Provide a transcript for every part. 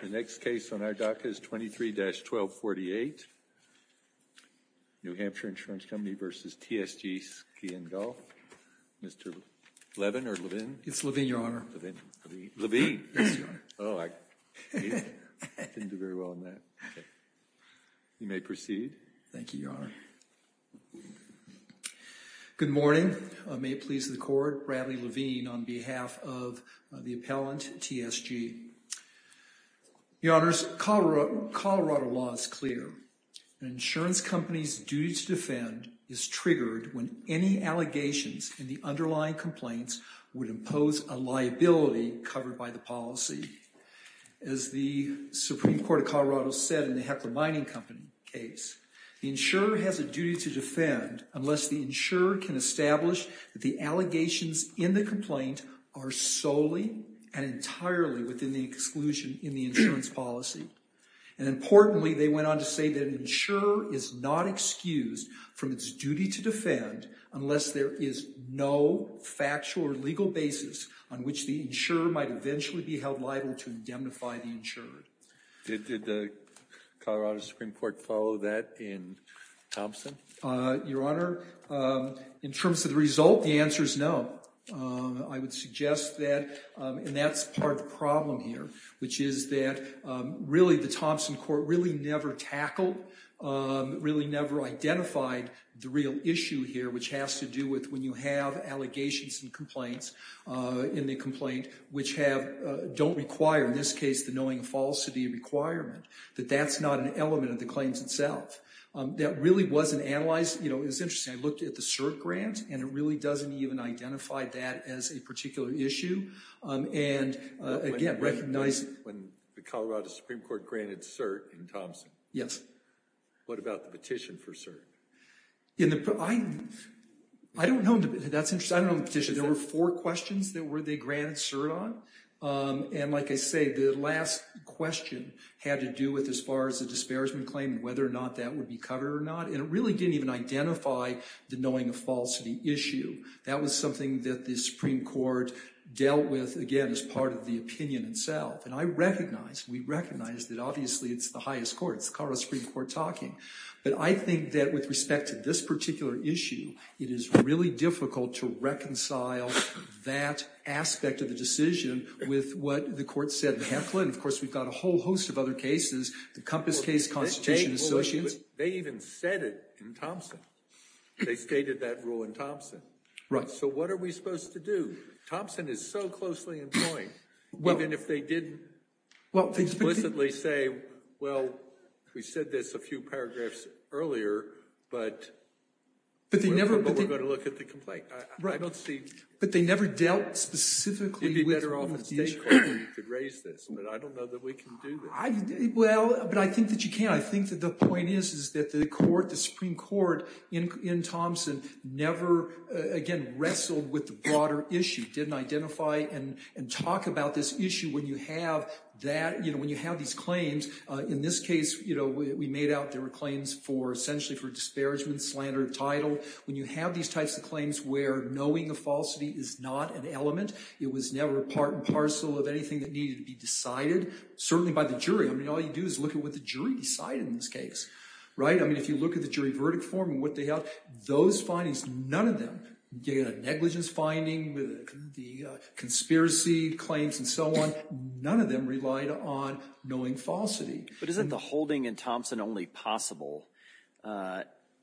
The next case on our dock is 23-1248, New Hampshire Insurance Company v. TSG Ski & Golf. Mr. Levin or Levin? It's Levin, Your Honor. Levin. Levin. Yes, Your Honor. Oh, I didn't do very well on that. You may proceed. Thank you, Your Honor. Good morning. May it please the Court, Bradley Levin on behalf of the appellant, TSG. Your Honors, Colorado law is clear. An insurance company's duty to defend is triggered when any allegations in the underlying complaints would impose a liability covered by the policy. As the Supreme Court of Colorado said in the Heckler Mining Company case, the insurer has a duty to defend unless the insurer can establish that the allegations in the complaint are solely and entirely within the exclusion in the insurance policy. And importantly, they went on to say that an insurer is not excused from its duty to defend unless there is no factual or legal basis on which the insurer might eventually be held liable to indemnify the insurer. Did the Colorado Supreme Court follow that in Thompson? Your Honor, in terms of the result, the answer is no. I would suggest that, and that's part of the problem here, which is that really the Thompson court really never tackled, really never identified the real issue here, which has to do with when you have allegations and complaints in the complaint which have, don't require, in this case, the knowing falsity requirement, that that's not an element of the claims itself. That really wasn't analyzed. You know, it's interesting. I looked at the CERT grant, and it really doesn't even identify that as a particular issue. And again, recognizing— When the Colorado Supreme Court granted CERT in Thompson, what about the petition for CERT? I don't know. That's interesting. I don't know the petition. There were four questions that they granted CERT on. And like I say, the last question had to do with, as far as the disparagement claim, whether or not that would be covered or not. And it really didn't even identify the knowing of falsity issue. That was something that the Supreme Court dealt with, again, as part of the opinion itself. And I recognize, we recognize, that obviously it's the highest court. It's the Colorado Supreme Court talking. But I think that with respect to this particular issue, it is really difficult to reconcile that aspect of the decision with what the court said in Heflin. Of course, we've got a whole host of other cases, the Compass Case Constitution Associates. They even said it in Thompson. They stated that rule in Thompson. Right. So what are we supposed to do? Thompson is so closely in point, even if they didn't explicitly say, well, we said this a few paragraphs earlier, but we're going to look at the complaint. Right. But they never dealt specifically with one of the issues. It would be better off if the state court could raise this, but I don't know that we can do that. Well, but I think that you can. I think that the point is that the Supreme Court in Thompson never, again, wrestled with the broader issue. Didn't identify and talk about this issue when you have these claims. In this case, we made out there were claims essentially for disparagement, slander of title. When you have these types of claims where knowing a falsity is not an element, it was never part and parcel of anything that needed to be decided, certainly by the jury. I mean, all you do is look at what the jury decided in this case. Right. I mean, if you look at the jury verdict form and what they held, those findings, none of them, the negligence finding, the conspiracy claims and so on, none of them relied on knowing falsity. But isn't the holding in Thompson only possible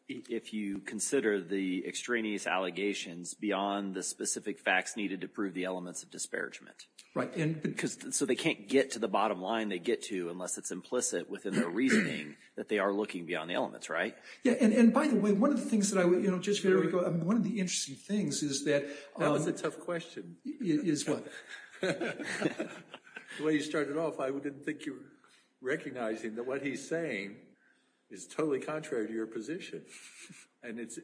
if you consider the extraneous allegations beyond the specific facts needed to prove the elements of disparagement? Right. So they can't get to the bottom line they get to unless it's implicit within their reasoning that they are looking beyond the elements. Yeah. And by the way, one of the things that I would, you know, Judge Federico, one of the interesting things is that. That was a tough question. Is what? The way you started off, I didn't think you were recognizing that what he's saying is totally contrary to your position. And it's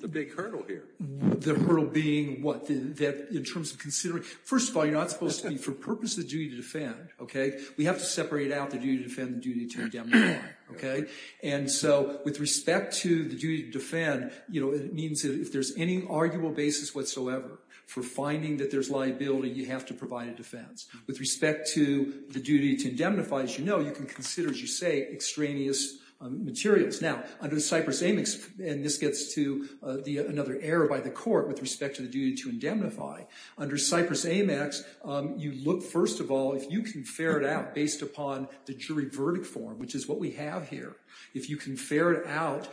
the big hurdle here. The hurdle being what? That in terms of considering. First of all, you're not supposed to be for purpose of duty to defend. OK. We have to separate out the duty to defend and the duty to indemnify. OK. And so with respect to the duty to defend, you know, it means that if there's any arguable basis whatsoever for finding that there's liability, you have to provide a defense. With respect to the duty to indemnify, as you know, you can consider, as you say, extraneous materials. Now, under Cyprus Amex, and this gets to another error by the court with respect to the duty to indemnify. Under Cyprus Amex, you look, first of all, if you can ferret out based upon the jury verdict form, which is what we have here. If you can ferret out,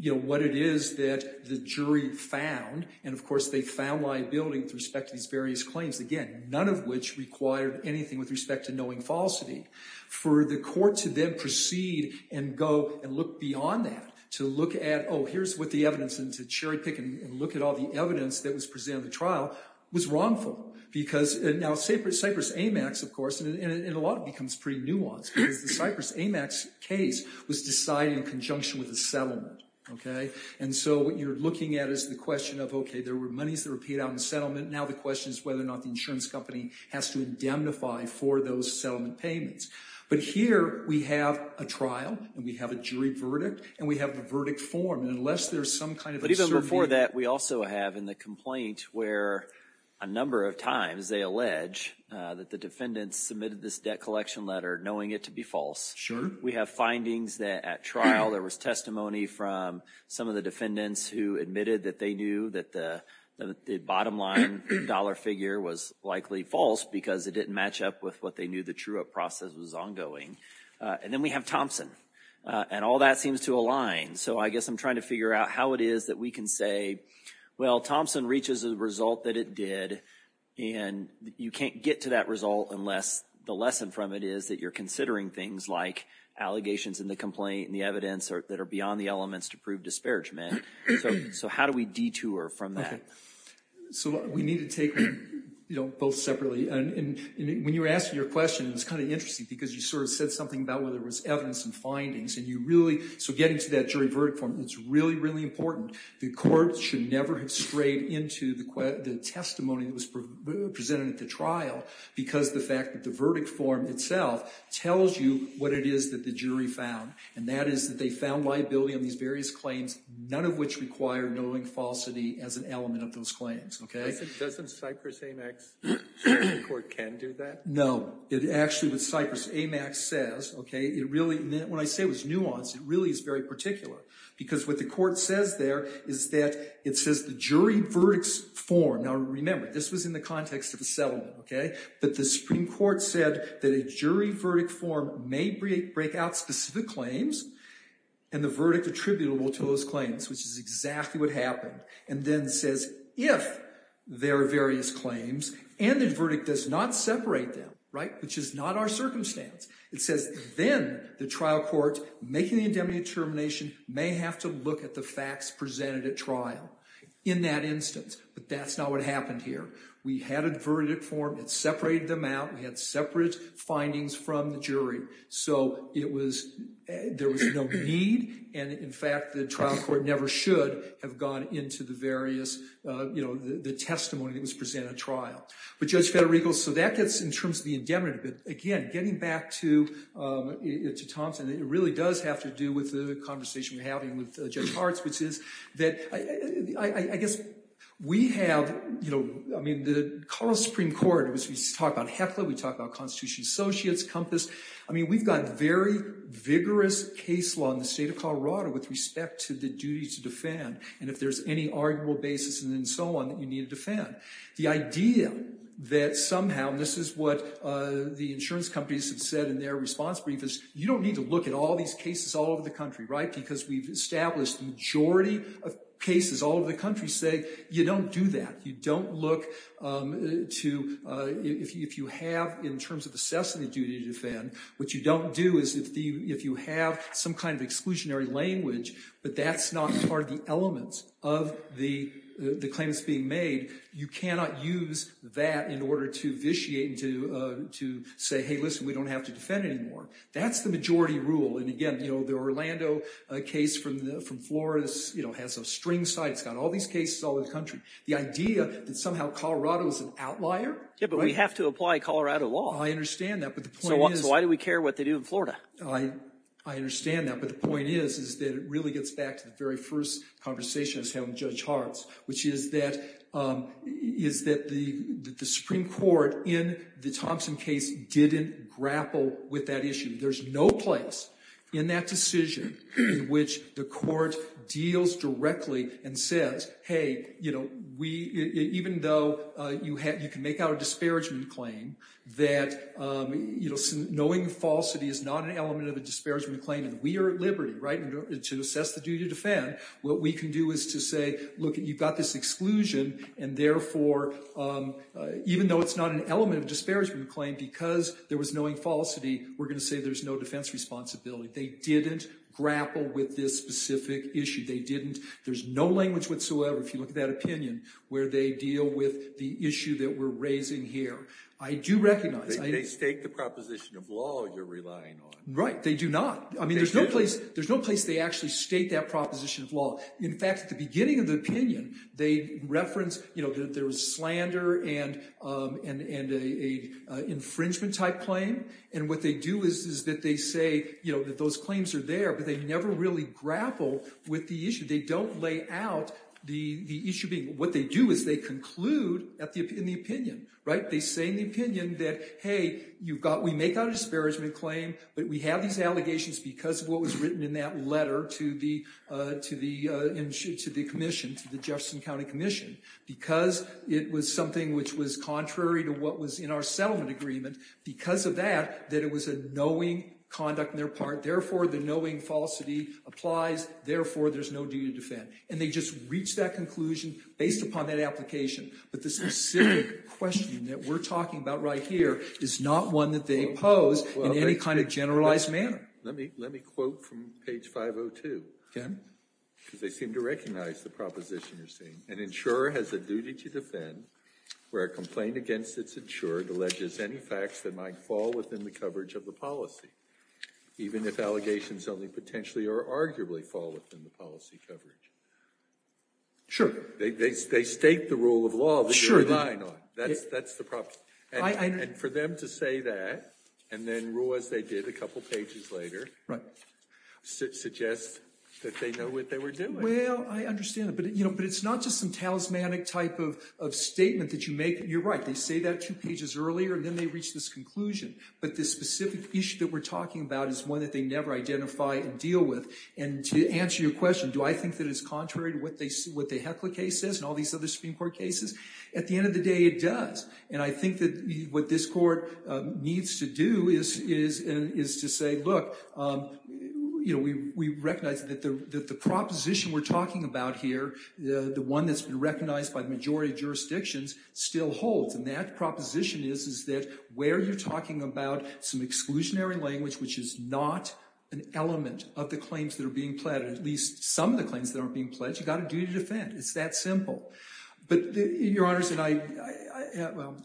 you know, what it is that the jury found. And, of course, they found liability with respect to these various claims. Again, none of which required anything with respect to knowing falsity. For the court to then proceed and go and look beyond that, to look at, oh, here's what the evidence, and to cherry pick and look at all the evidence that was presented in the trial, was wrongful. Because now Cyprus Amex, of course, and a lot of it becomes pretty nuanced, because the Cyprus Amex case was decided in conjunction with the settlement. OK. And so what you're looking at is the question of, OK, there were monies that were paid out in the settlement. Now the question is whether or not the insurance company has to indemnify for those settlement payments. But here we have a trial, and we have a jury verdict, and we have the verdict form. And unless there's some kind of a surveyed… But even before that, we also have in the complaint where a number of times they allege that the defendants submitted this debt collection letter knowing it to be false. Sure. We have findings that at trial there was testimony from some of the defendants who admitted that they knew that the bottom line dollar figure was likely false, because it didn't match up with what they knew the true up process was ongoing. And then we have Thompson. And all that seems to align. So I guess I'm trying to figure out how it is that we can say, well, Thompson reaches a result that it did, and you can't get to that result unless the lesson from it is that you're considering things like allegations in the complaint and the evidence that are beyond the elements to prove disparagement. So how do we detour from that? So we need to take them both separately. When you were asking your question, it's kind of interesting because you sort of said something about whether it was evidence and findings. So getting to that jury verdict form, it's really, really important. The court should never have strayed into the testimony that was presented at the trial because the fact that the verdict form itself tells you what it is that the jury found. And that is that they found liability on these various claims, none of which require knowing falsity as an element of those claims. Doesn't Cypress-Amex court can do that? No. Actually, what Cypress-Amex says, when I say it was nuanced, it really is very particular. Because what the court says there is that it says the jury verdicts form. Now, remember, this was in the context of a settlement. But the Supreme Court said that a jury verdict form may break out specific claims and the verdict attributable to those claims, which is exactly what happened. And then says if there are various claims and the verdict does not separate them, right, which is not our circumstance. It says then the trial court making the indemnity determination may have to look at the facts presented at trial in that instance. But that's not what happened here. We had a verdict form. It separated them out. We had separate findings from the jury. So there was no need. And in fact, the trial court never should have gone into the various testimony that was presented at trial. But Judge Federico, so that gets in terms of the indemnity. But again, getting back to Thompson, it really does have to do with the conversation we're having with Judge Hartz, which is that I guess we have, you know, I mean, the Supreme Court, we talk about HECLA. We talk about Constitution Associates, COMPAS. I mean, we've got very vigorous case law in the state of Colorado with respect to the duty to defend and if there's any arguable basis and then so on that you need to defend. The idea that somehow, and this is what the insurance companies have said in their response brief, is you don't need to look at all these cases all over the country, right, because we've established the majority of cases all over the country say you don't do that. You don't look to, if you have in terms of assessing the duty to defend, what you don't do is if you have some kind of exclusionary language, but that's not part of the elements of the claim that's being made, you cannot use that in order to vitiate and to say, hey, listen, we don't have to defend anymore. That's the majority rule. And again, you know, the Orlando case from Florida, you know, has a string side. It's got all these cases all over the country. The idea that somehow Colorado is an outlier. Yeah, but we have to apply Colorado law. I understand that, but the point is. So why do we care what they do in Florida? I understand that, but the point is that it really gets back to the very first conversation I was having with Judge Hartz, which is that the Supreme Court in the Thompson case didn't grapple with that issue. There's no place in that decision in which the court deals directly and says, hey, you know, even though you can make out a disparagement claim, that, you know, knowing falsity is not an element of a disparagement claim, and we are at liberty, right, to assess the duty to defend. What we can do is to say, look, you've got this exclusion, and therefore, even though it's not an element of a disparagement claim, because there was knowing falsity, we're going to say there's no defense responsibility. They didn't grapple with this specific issue. They didn't. There's no language whatsoever, if you look at that opinion, where they deal with the issue that we're raising here. I do recognize. They state the proposition of law you're relying on. Right. They do not. I mean, there's no place they actually state that proposition of law. In fact, at the beginning of the opinion, they reference, you know, that there was slander and an infringement-type claim, and what they do is that they say, you know, that those claims are there, but they never really grapple with the issue. They don't lay out the issue. What they do is they conclude in the opinion. Right. They say in the opinion that, hey, you've got – we make out a disparagement claim, but we have these allegations because of what was written in that letter to the commission, to the Jefferson County Commission, because it was something which was contrary to what was in our settlement agreement. Because of that, that it was a knowing conduct on their part. Therefore, the knowing falsity applies. Therefore, there's no duty to defend. And they just reach that conclusion based upon that application. But the specific question that we're talking about right here is not one that they pose in any kind of generalized manner. Let me quote from page 502. Okay. Because they seem to recognize the proposition you're saying. An insurer has a duty to defend where a complaint against its insurer alleges any facts that might fall within the coverage of the policy, even if allegations only potentially or arguably fall within the policy coverage. Sure. They state the rule of law that they're relying on. That's the proposition. And for them to say that and then rule as they did a couple pages later suggests that they know what they were doing. Well, I understand that. But it's not just some talismanic type of statement that you make. You're right. They say that two pages earlier, and then they reach this conclusion. But the specific issue that we're talking about is one that they never identify and deal with. And to answer your question, do I think that it's contrary to what the Heckler case says and all these other Supreme Court cases? At the end of the day, it does. And I think that what this court needs to do is to say, look, you know, we recognize that the proposition we're talking about here, the one that's been recognized by the majority of jurisdictions, still holds. And that proposition is, is that where you're talking about some exclusionary language, which is not an element of the claims that are being pledged, at least some of the claims that are being pledged, you've got a duty to defend. It's that simple. But, Your Honors, and I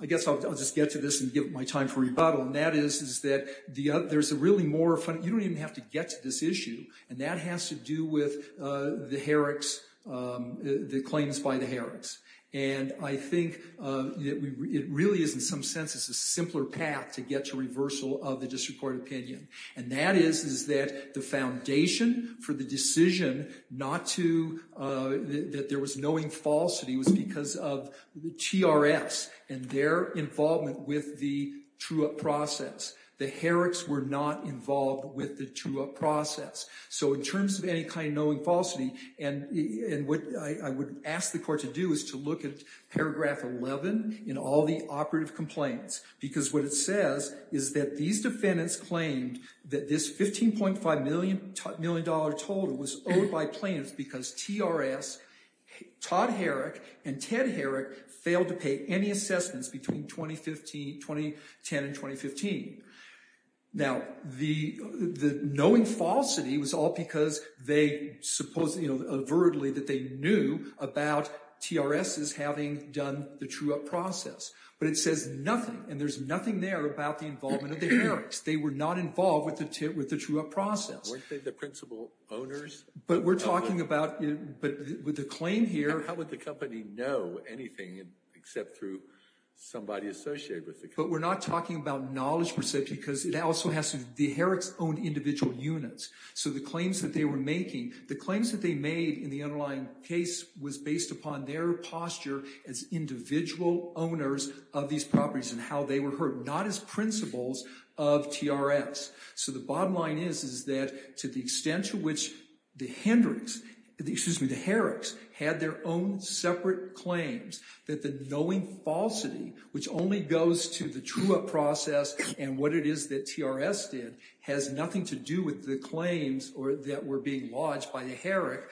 guess I'll just get to this and give my time for rebuttal. And that is, is that there's a really more – you don't even have to get to this issue. And that has to do with the Herricks, the claims by the Herricks. And I think that it really is, in some sense, a simpler path to get to reversal of the district court opinion. And that is, is that the foundation for the decision not to – that there was knowing falsity, was because of the TRS and their involvement with the true-up process. The Herricks were not involved with the true-up process. So in terms of any kind of knowing falsity, and what I would ask the court to do is to look at paragraph 11 in all the operative complaints. Because what it says is that these defendants claimed that this $15.5 million total was owed by plaintiffs because TRS, Todd Herrick, and Ted Herrick failed to pay any assessments between 2010 and 2015. Now, the knowing falsity was all because they supposedly, you know, avertedly that they knew about TRS's having done the true-up process. But it says nothing, and there's nothing there about the involvement of the Herricks. They were not involved with the true-up process. Weren't they the principal owners? But we're talking about – but with the claim here – How would the company know anything except through somebody associated with the company? But we're not talking about knowledge, per se, because it also has to – the Herricks owned individual units. So the claims that they were making, the claims that they made in the underlying case, was based upon their posture as individual owners of these properties and how they were heard, not as principals of TRS. So the bottom line is, is that to the extent to which the Hendricks – excuse me, the Herricks – had their own separate claims, that the knowing falsity, which only goes to the true-up process and what it is that TRS did, has nothing to do with the claims that were being lodged by the Herricks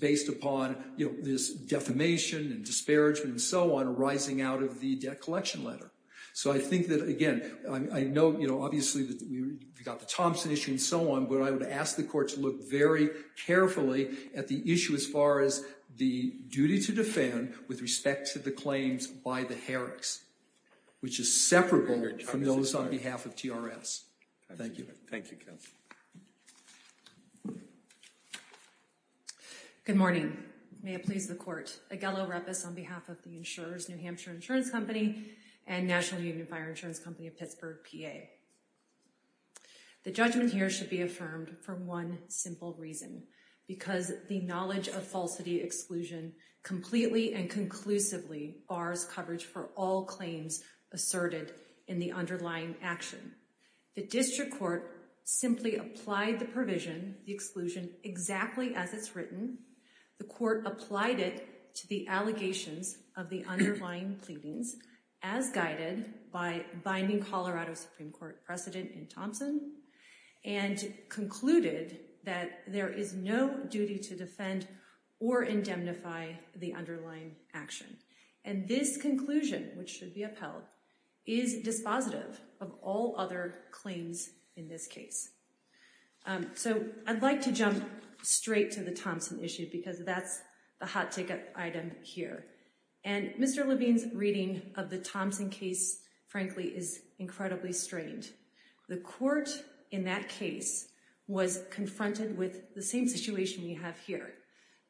based upon, you know, this defamation and disparagement and so on arising out of the debt collection letter. So I think that, again, I know, you know, obviously we've got the Thompson issue and so on, but I would ask the court to look very carefully at the issue as far as the duty to defend with respect to the claims by the Herricks, which is separable from those on behalf of TRS. Thank you. Thank you, counsel. Good morning. May it please the court. Aguello Repis on behalf of the insurers, New Hampshire Insurance Company and National Union of Fire Insurance Company of Pittsburgh, PA. The judgment here should be affirmed for one simple reason, because the knowledge of falsity exclusion completely and conclusively bars coverage for all claims asserted in the underlying action. The district court simply applied the provision, the exclusion, exactly as it's written. The court applied it to the allegations of the underlying pleadings as guided by binding Colorado Supreme Court precedent in Thompson and concluded that there is no duty to defend or indemnify the underlying action. And this conclusion, which should be upheld, is dispositive of all other claims in this case. So I'd like to jump straight to the Thompson issue because that's the hot ticket item here. And Mr. Levine's reading of the Thompson case, frankly, is incredibly strained. The court in that case was confronted with the same situation we have here.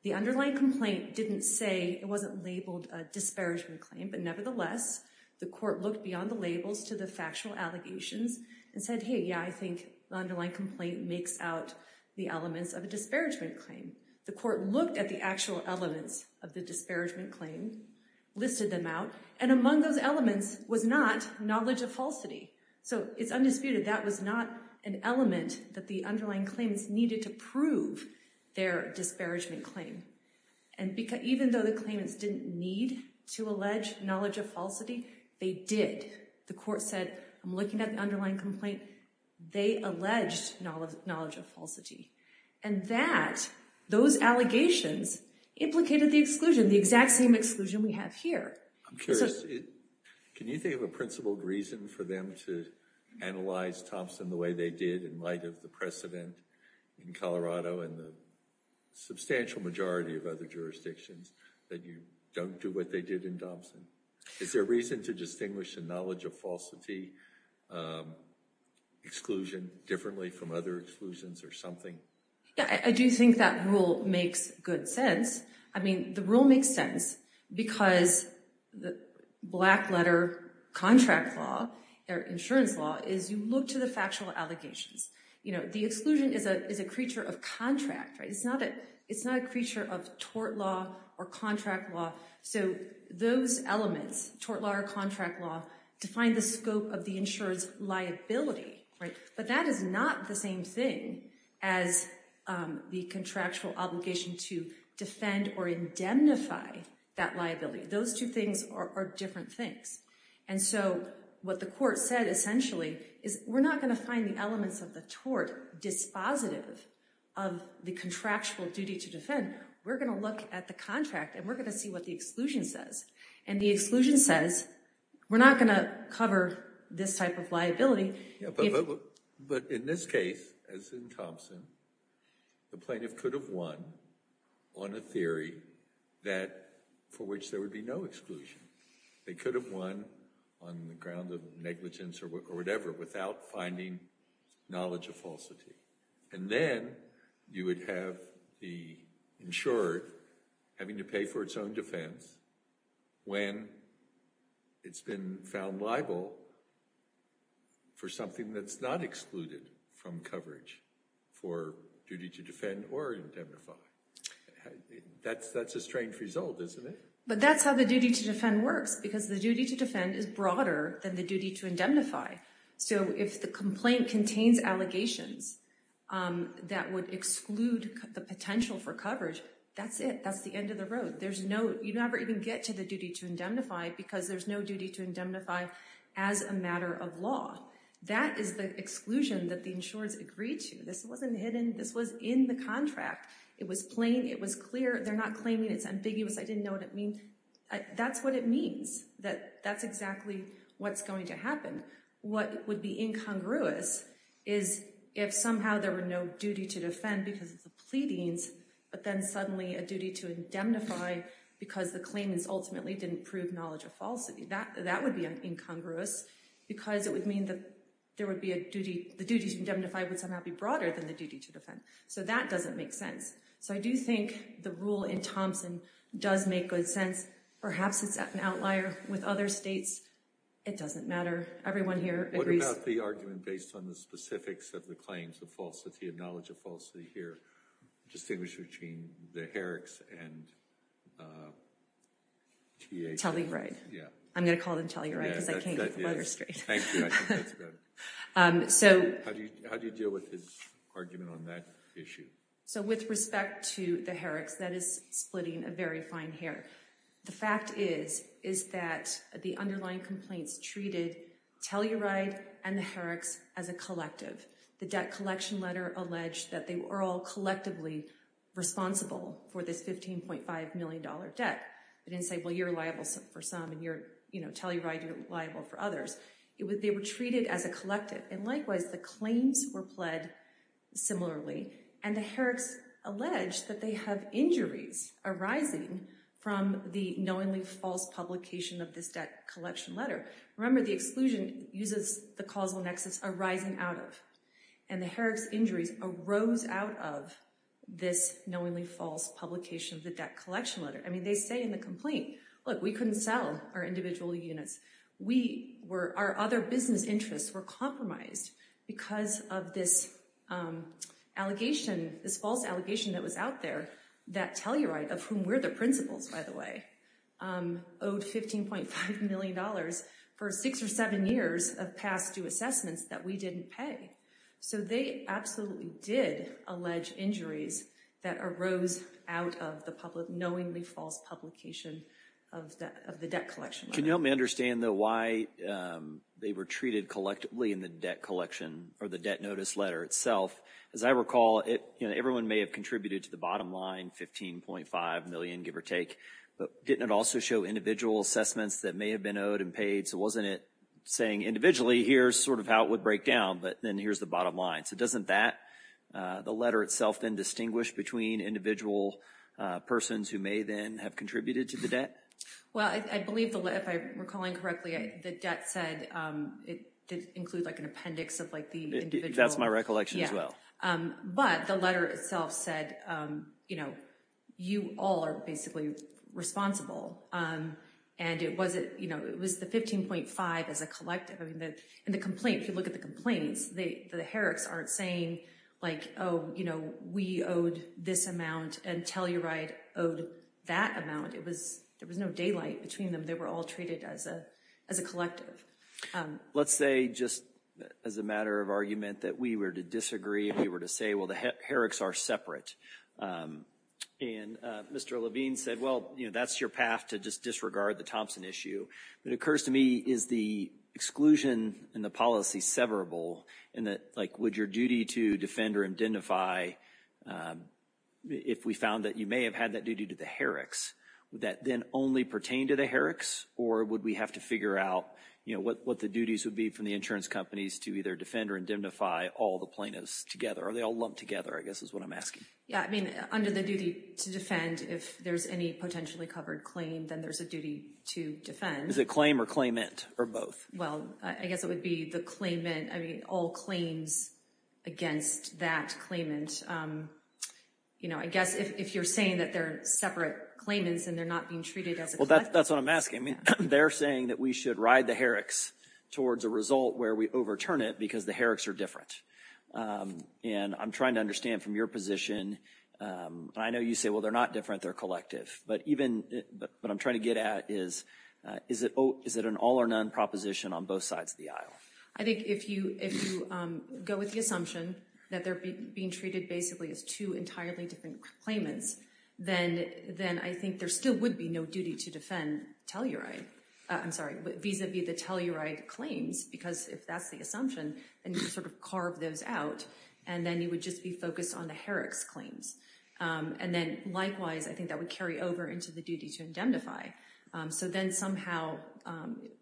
The underlying complaint didn't say, it wasn't labeled a disparagement claim, but nevertheless, the court looked beyond the labels to the factual allegations and said, hey, yeah, I think the underlying complaint makes out the elements of a disparagement claim. The court looked at the actual elements of the disparagement claim, listed them out, and among those elements was not knowledge of falsity. So it's undisputed that was not an element that the underlying claimants needed to prove their disparagement claim. And even though the claimants didn't need to allege knowledge of falsity, they did. The court said, I'm looking at the underlying complaint. They alleged knowledge of falsity. And that, those allegations, implicated the exclusion, the exact same exclusion we have here. I'm curious, can you think of a principled reason for them to analyze Thompson the way they did in light of the precedent in Colorado and the substantial majority of other jurisdictions that you don't do what they did in Thompson? Is there a reason to distinguish the knowledge of falsity exclusion differently from other exclusions or something? Yeah, I do think that rule makes good sense. I mean, the rule makes sense because the black letter contract law, or insurance law, is you look to the factual allegations. You know, the exclusion is a creature of contract, right? It's not a creature of tort law or contract law. So those elements, tort law or contract law, define the scope of the insurer's liability, right? But that is not the same thing as the contractual obligation to defend or indemnify that liability. Those two things are different things. And so what the court said, essentially, is we're not going to find the elements of the tort dispositive of the contractual duty to defend. We're going to look at the contract, and we're going to see what the exclusion says. And the exclusion says, we're not going to cover this type of liability. But in this case, as in Thompson, the plaintiff could have won on a theory for which there would be no exclusion. They could have won on the ground of negligence or whatever without finding knowledge of falsity. And then you would have the insurer having to pay for its own defense when it's been found liable for something that's not excluded from coverage for duty to defend or indemnify. That's a strange result, isn't it? But that's how the duty to defend works, because the duty to defend is broader than the duty to indemnify. So if the complaint contains allegations that would exclude the potential for coverage, that's it. That's the end of the road. You never even get to the duty to indemnify because there's no duty to indemnify as a matter of law. That is the exclusion that the insurers agreed to. This wasn't hidden. This was in the contract. It was plain. It was clear. They're not claiming it's ambiguous. I didn't know what it means. That's what it means. That's exactly what's going to happen. What would be incongruous is if somehow there were no duty to defend because of the pleadings, but then suddenly a duty to indemnify because the claimants ultimately didn't prove knowledge of falsity. That would be incongruous because it would mean that the duty to indemnify would somehow be broader than the duty to defend. So that doesn't make sense. So I do think the rule in Thompson does make good sense. Perhaps it's an outlier with other states. It doesn't matter. Everyone here agrees. What about the argument based on the specifics of the claims of falsity of knowledge of falsity here? Distinguished between the Herricks and T.A. Telly-Wright. I'm going to call them Telly-Wright because I can't get the letters straight. Thank you. I think that's good. How do you deal with his argument on that issue? So with respect to the Herricks, that is splitting a very fine hair. The fact is, is that the underlying complaints treated Telly-Wright and the Herricks as a collective. The debt collection letter alleged that they were all collectively responsible for this $15.5 million debt. They didn't say, well, you're liable for some and you're, you know, Telly-Wright, you're liable for others. They were treated as a collective. And likewise, the claims were pled similarly. And the Herricks alleged that they have injuries arising from the knowingly false publication of this debt collection letter. Remember, the exclusion uses the causal nexus arising out of. And the Herricks injuries arose out of this knowingly false publication of the debt collection letter. I mean, they say in the complaint, look, we couldn't sell our individual units. We were our other business interests were compromised because of this allegation, this false allegation that was out there. That Telly-Wright, of whom were the principals, by the way, owed $15.5 million for six or seven years of past due assessments that we didn't pay. So they absolutely did allege injuries that arose out of the public knowingly false publication of the debt collection. Can you help me understand, though, why they were treated collectively in the debt collection or the debt notice letter itself? As I recall it, everyone may have contributed to the bottom line, $15.5 million, give or take. But didn't it also show individual assessments that may have been owed and paid? So wasn't it saying individually, here's sort of how it would break down, but then here's the bottom line. So doesn't that, the letter itself, then distinguish between individual persons who may then have contributed to the debt? Well, I believe, if I'm recalling correctly, the debt said it did include like an appendix of like the individual. That's my recollection as well. But the letter itself said, you know, you all are basically responsible. And it wasn't, you know, it was the $15.5 as a collective. And the complaint, if you look at the complaints, the heretics aren't saying like, oh, you know, we owed this amount and Telly-Wright owed that amount. It was, there was no daylight between them. They were all treated as a collective. Let's say just as a matter of argument that we were to disagree and we were to say, well, the heretics are separate. And Mr. Levine said, well, you know, that's your path to just disregard the Thompson issue. It occurs to me, is the exclusion in the policy severable? And that, like, would your duty to defend or indemnify, if we found that you may have had that duty to the heretics, would that then only pertain to the heretics? Or would we have to figure out, you know, what the duties would be from the insurance companies to either defend or indemnify all the plaintiffs together? Are they all lumped together, I guess is what I'm asking. Yeah, I mean, under the duty to defend, if there's any potentially covered claim, then there's a duty to defend. Is it claim or claimant or both? Well, I guess it would be the claimant. I mean, all claims against that claimant. You know, I guess if you're saying that they're separate claimants and they're not being treated as a. Well, that's what I'm asking. I mean, they're saying that we should ride the heretics towards a result where we overturn it because the heretics are different. And I'm trying to understand from your position. I know you say, well, they're not different. They're collective. But even what I'm trying to get at is, is it is it an all or none proposition on both sides of the aisle? I think if you if you go with the assumption that they're being treated basically as two entirely different claimants, then then I think there still would be no duty to defend Telluride. I'm sorry. These would be the Telluride claims, because if that's the assumption and sort of carve those out and then you would just be focused on the heretics claims. And then likewise, I think that would carry over into the duty to indemnify. So then somehow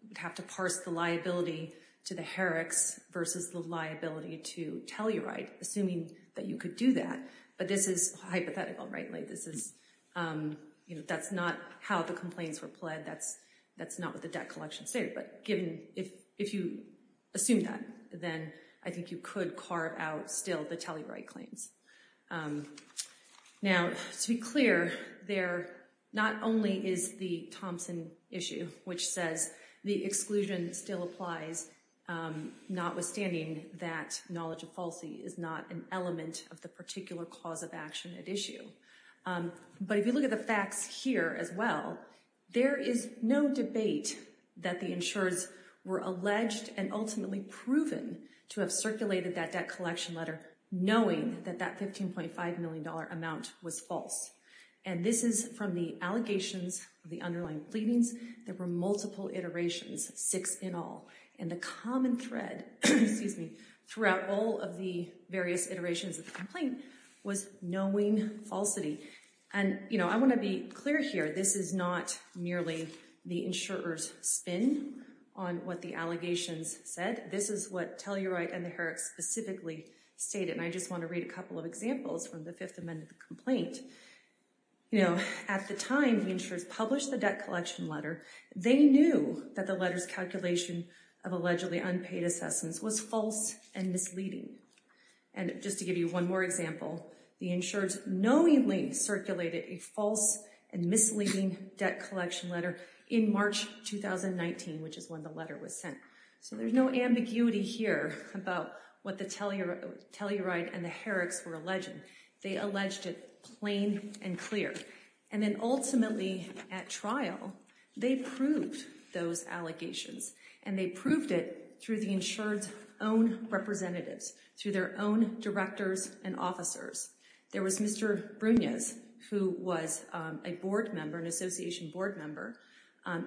we'd have to parse the liability to the heretics versus the liability to Telluride, assuming that you could do that. But this is hypothetical, rightly. This is that's not how the complaints were pled. That's that's not what the debt collection state. But given if if you assume that, then I think you could carve out still the Telluride claims. Now, to be clear, there not only is the Thompson issue, which says the exclusion still applies, notwithstanding that knowledge of policy is not an element of the particular cause of action at issue. But if you look at the facts here as well, there is no debate that the insurers were alleged and ultimately proven to have circulated that debt collection letter, knowing that that fifteen point five million dollar amount was false. And this is from the allegations of the underlying pleadings. There were multiple iterations, six in all, and the common thread throughout all of the various iterations of the complaint was knowing falsity. And, you know, I want to be clear here. This is not merely the insurers spin on what the allegations said. This is what Telluride and the heretics specifically stated. And I just want to read a couple of examples from the Fifth Amendment complaint. You know, at the time the insurers published the debt collection letter, they knew that the letters calculation of allegedly unpaid assessments was false and misleading. And just to give you one more example, the insurers knowingly circulated a false and misleading debt collection letter in March 2019, which is when the letter was sent. So there's no ambiguity here about what the Telluride and the heretics were alleging. They alleged it plain and clear. And then ultimately at trial, they proved those allegations and they proved it through the insured's own representatives, through their own directors and officers. There was Mr. Brunias, who was a board member, an association board member.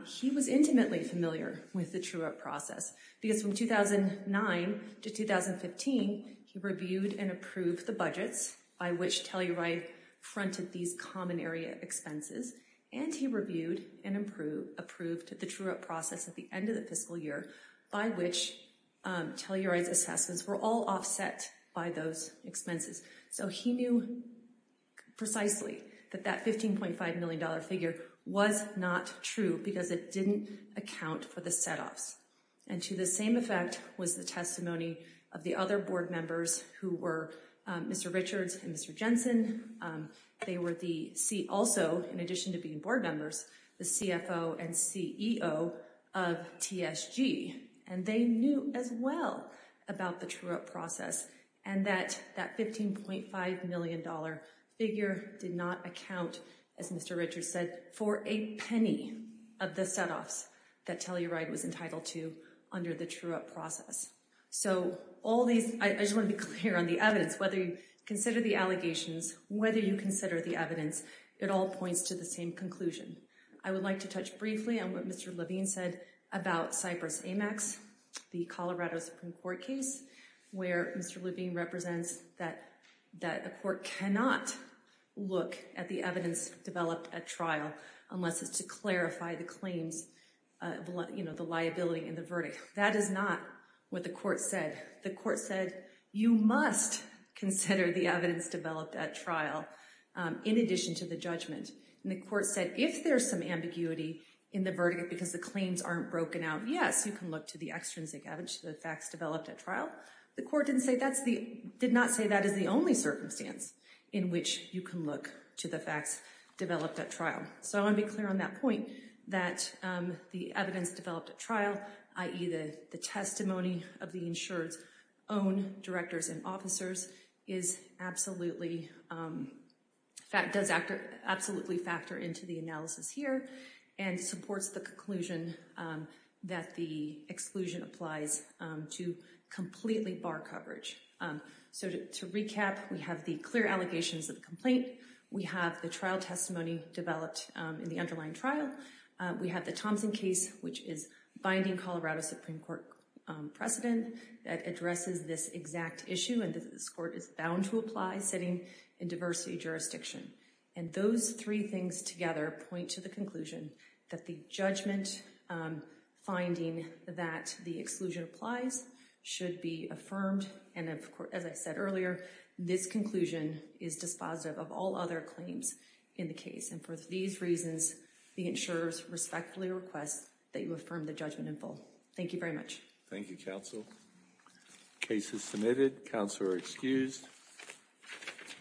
He was intimately familiar with the TrueUp process because from 2009 to 2015, he reviewed and approved the budgets by which Telluride fronted these common area expenses. And he reviewed and approved the TrueUp process at the end of the fiscal year by which Telluride's assessments were all offset by those expenses. So he knew precisely that that $15.5 million figure was not true because it didn't account for the setoffs. And to the same effect was the testimony of the other board members who were Mr. Richards and Mr. Jensen. They were also, in addition to being board members, the CFO and CEO of TSG. And they knew as well about the TrueUp process and that that $15.5 million figure did not account, as Mr. Richards said, for a penny of the setoffs that Telluride was entitled to under the TrueUp process. So all these, I just want to be clear on the evidence, whether you consider the allegations, whether you consider the evidence, it all points to the same conclusion. I would like to touch briefly on what Mr. Levine said about Cypress-Amex, the Colorado Supreme Court case, where Mr. Levine represents that a court cannot look at the evidence developed at trial unless it's to clarify the claims, you know, the liability and the verdict. That is not what the court said. The court said you must consider the evidence developed at trial in addition to the judgment. And the court said if there's some ambiguity in the verdict because the claims aren't broken out, yes, you can look to the extrinsic evidence, the facts developed at trial. The court did not say that is the only circumstance in which you can look to the facts developed at trial. So I want to be clear on that point, that the evidence developed at trial, i.e. the testimony of the insured's own directors and officers, does absolutely factor into the analysis here and supports the conclusion that the exclusion applies to completely bar coverage. So to recap, we have the clear allegations of the complaint. We have the trial testimony developed in the underlying trial. We have the Thompson case, which is binding Colorado Supreme Court precedent that addresses this exact issue, and this court is bound to apply sitting in diversity jurisdiction. And those three things together point to the conclusion that the judgment finding that the exclusion applies should be affirmed. And of course, as I said earlier, this conclusion is dispositive of all other claims in the case. And for these reasons, the insurers respectfully request that you affirm the judgment in full. Thank you very much. Thank you, counsel. Case is submitted. Counselor excused.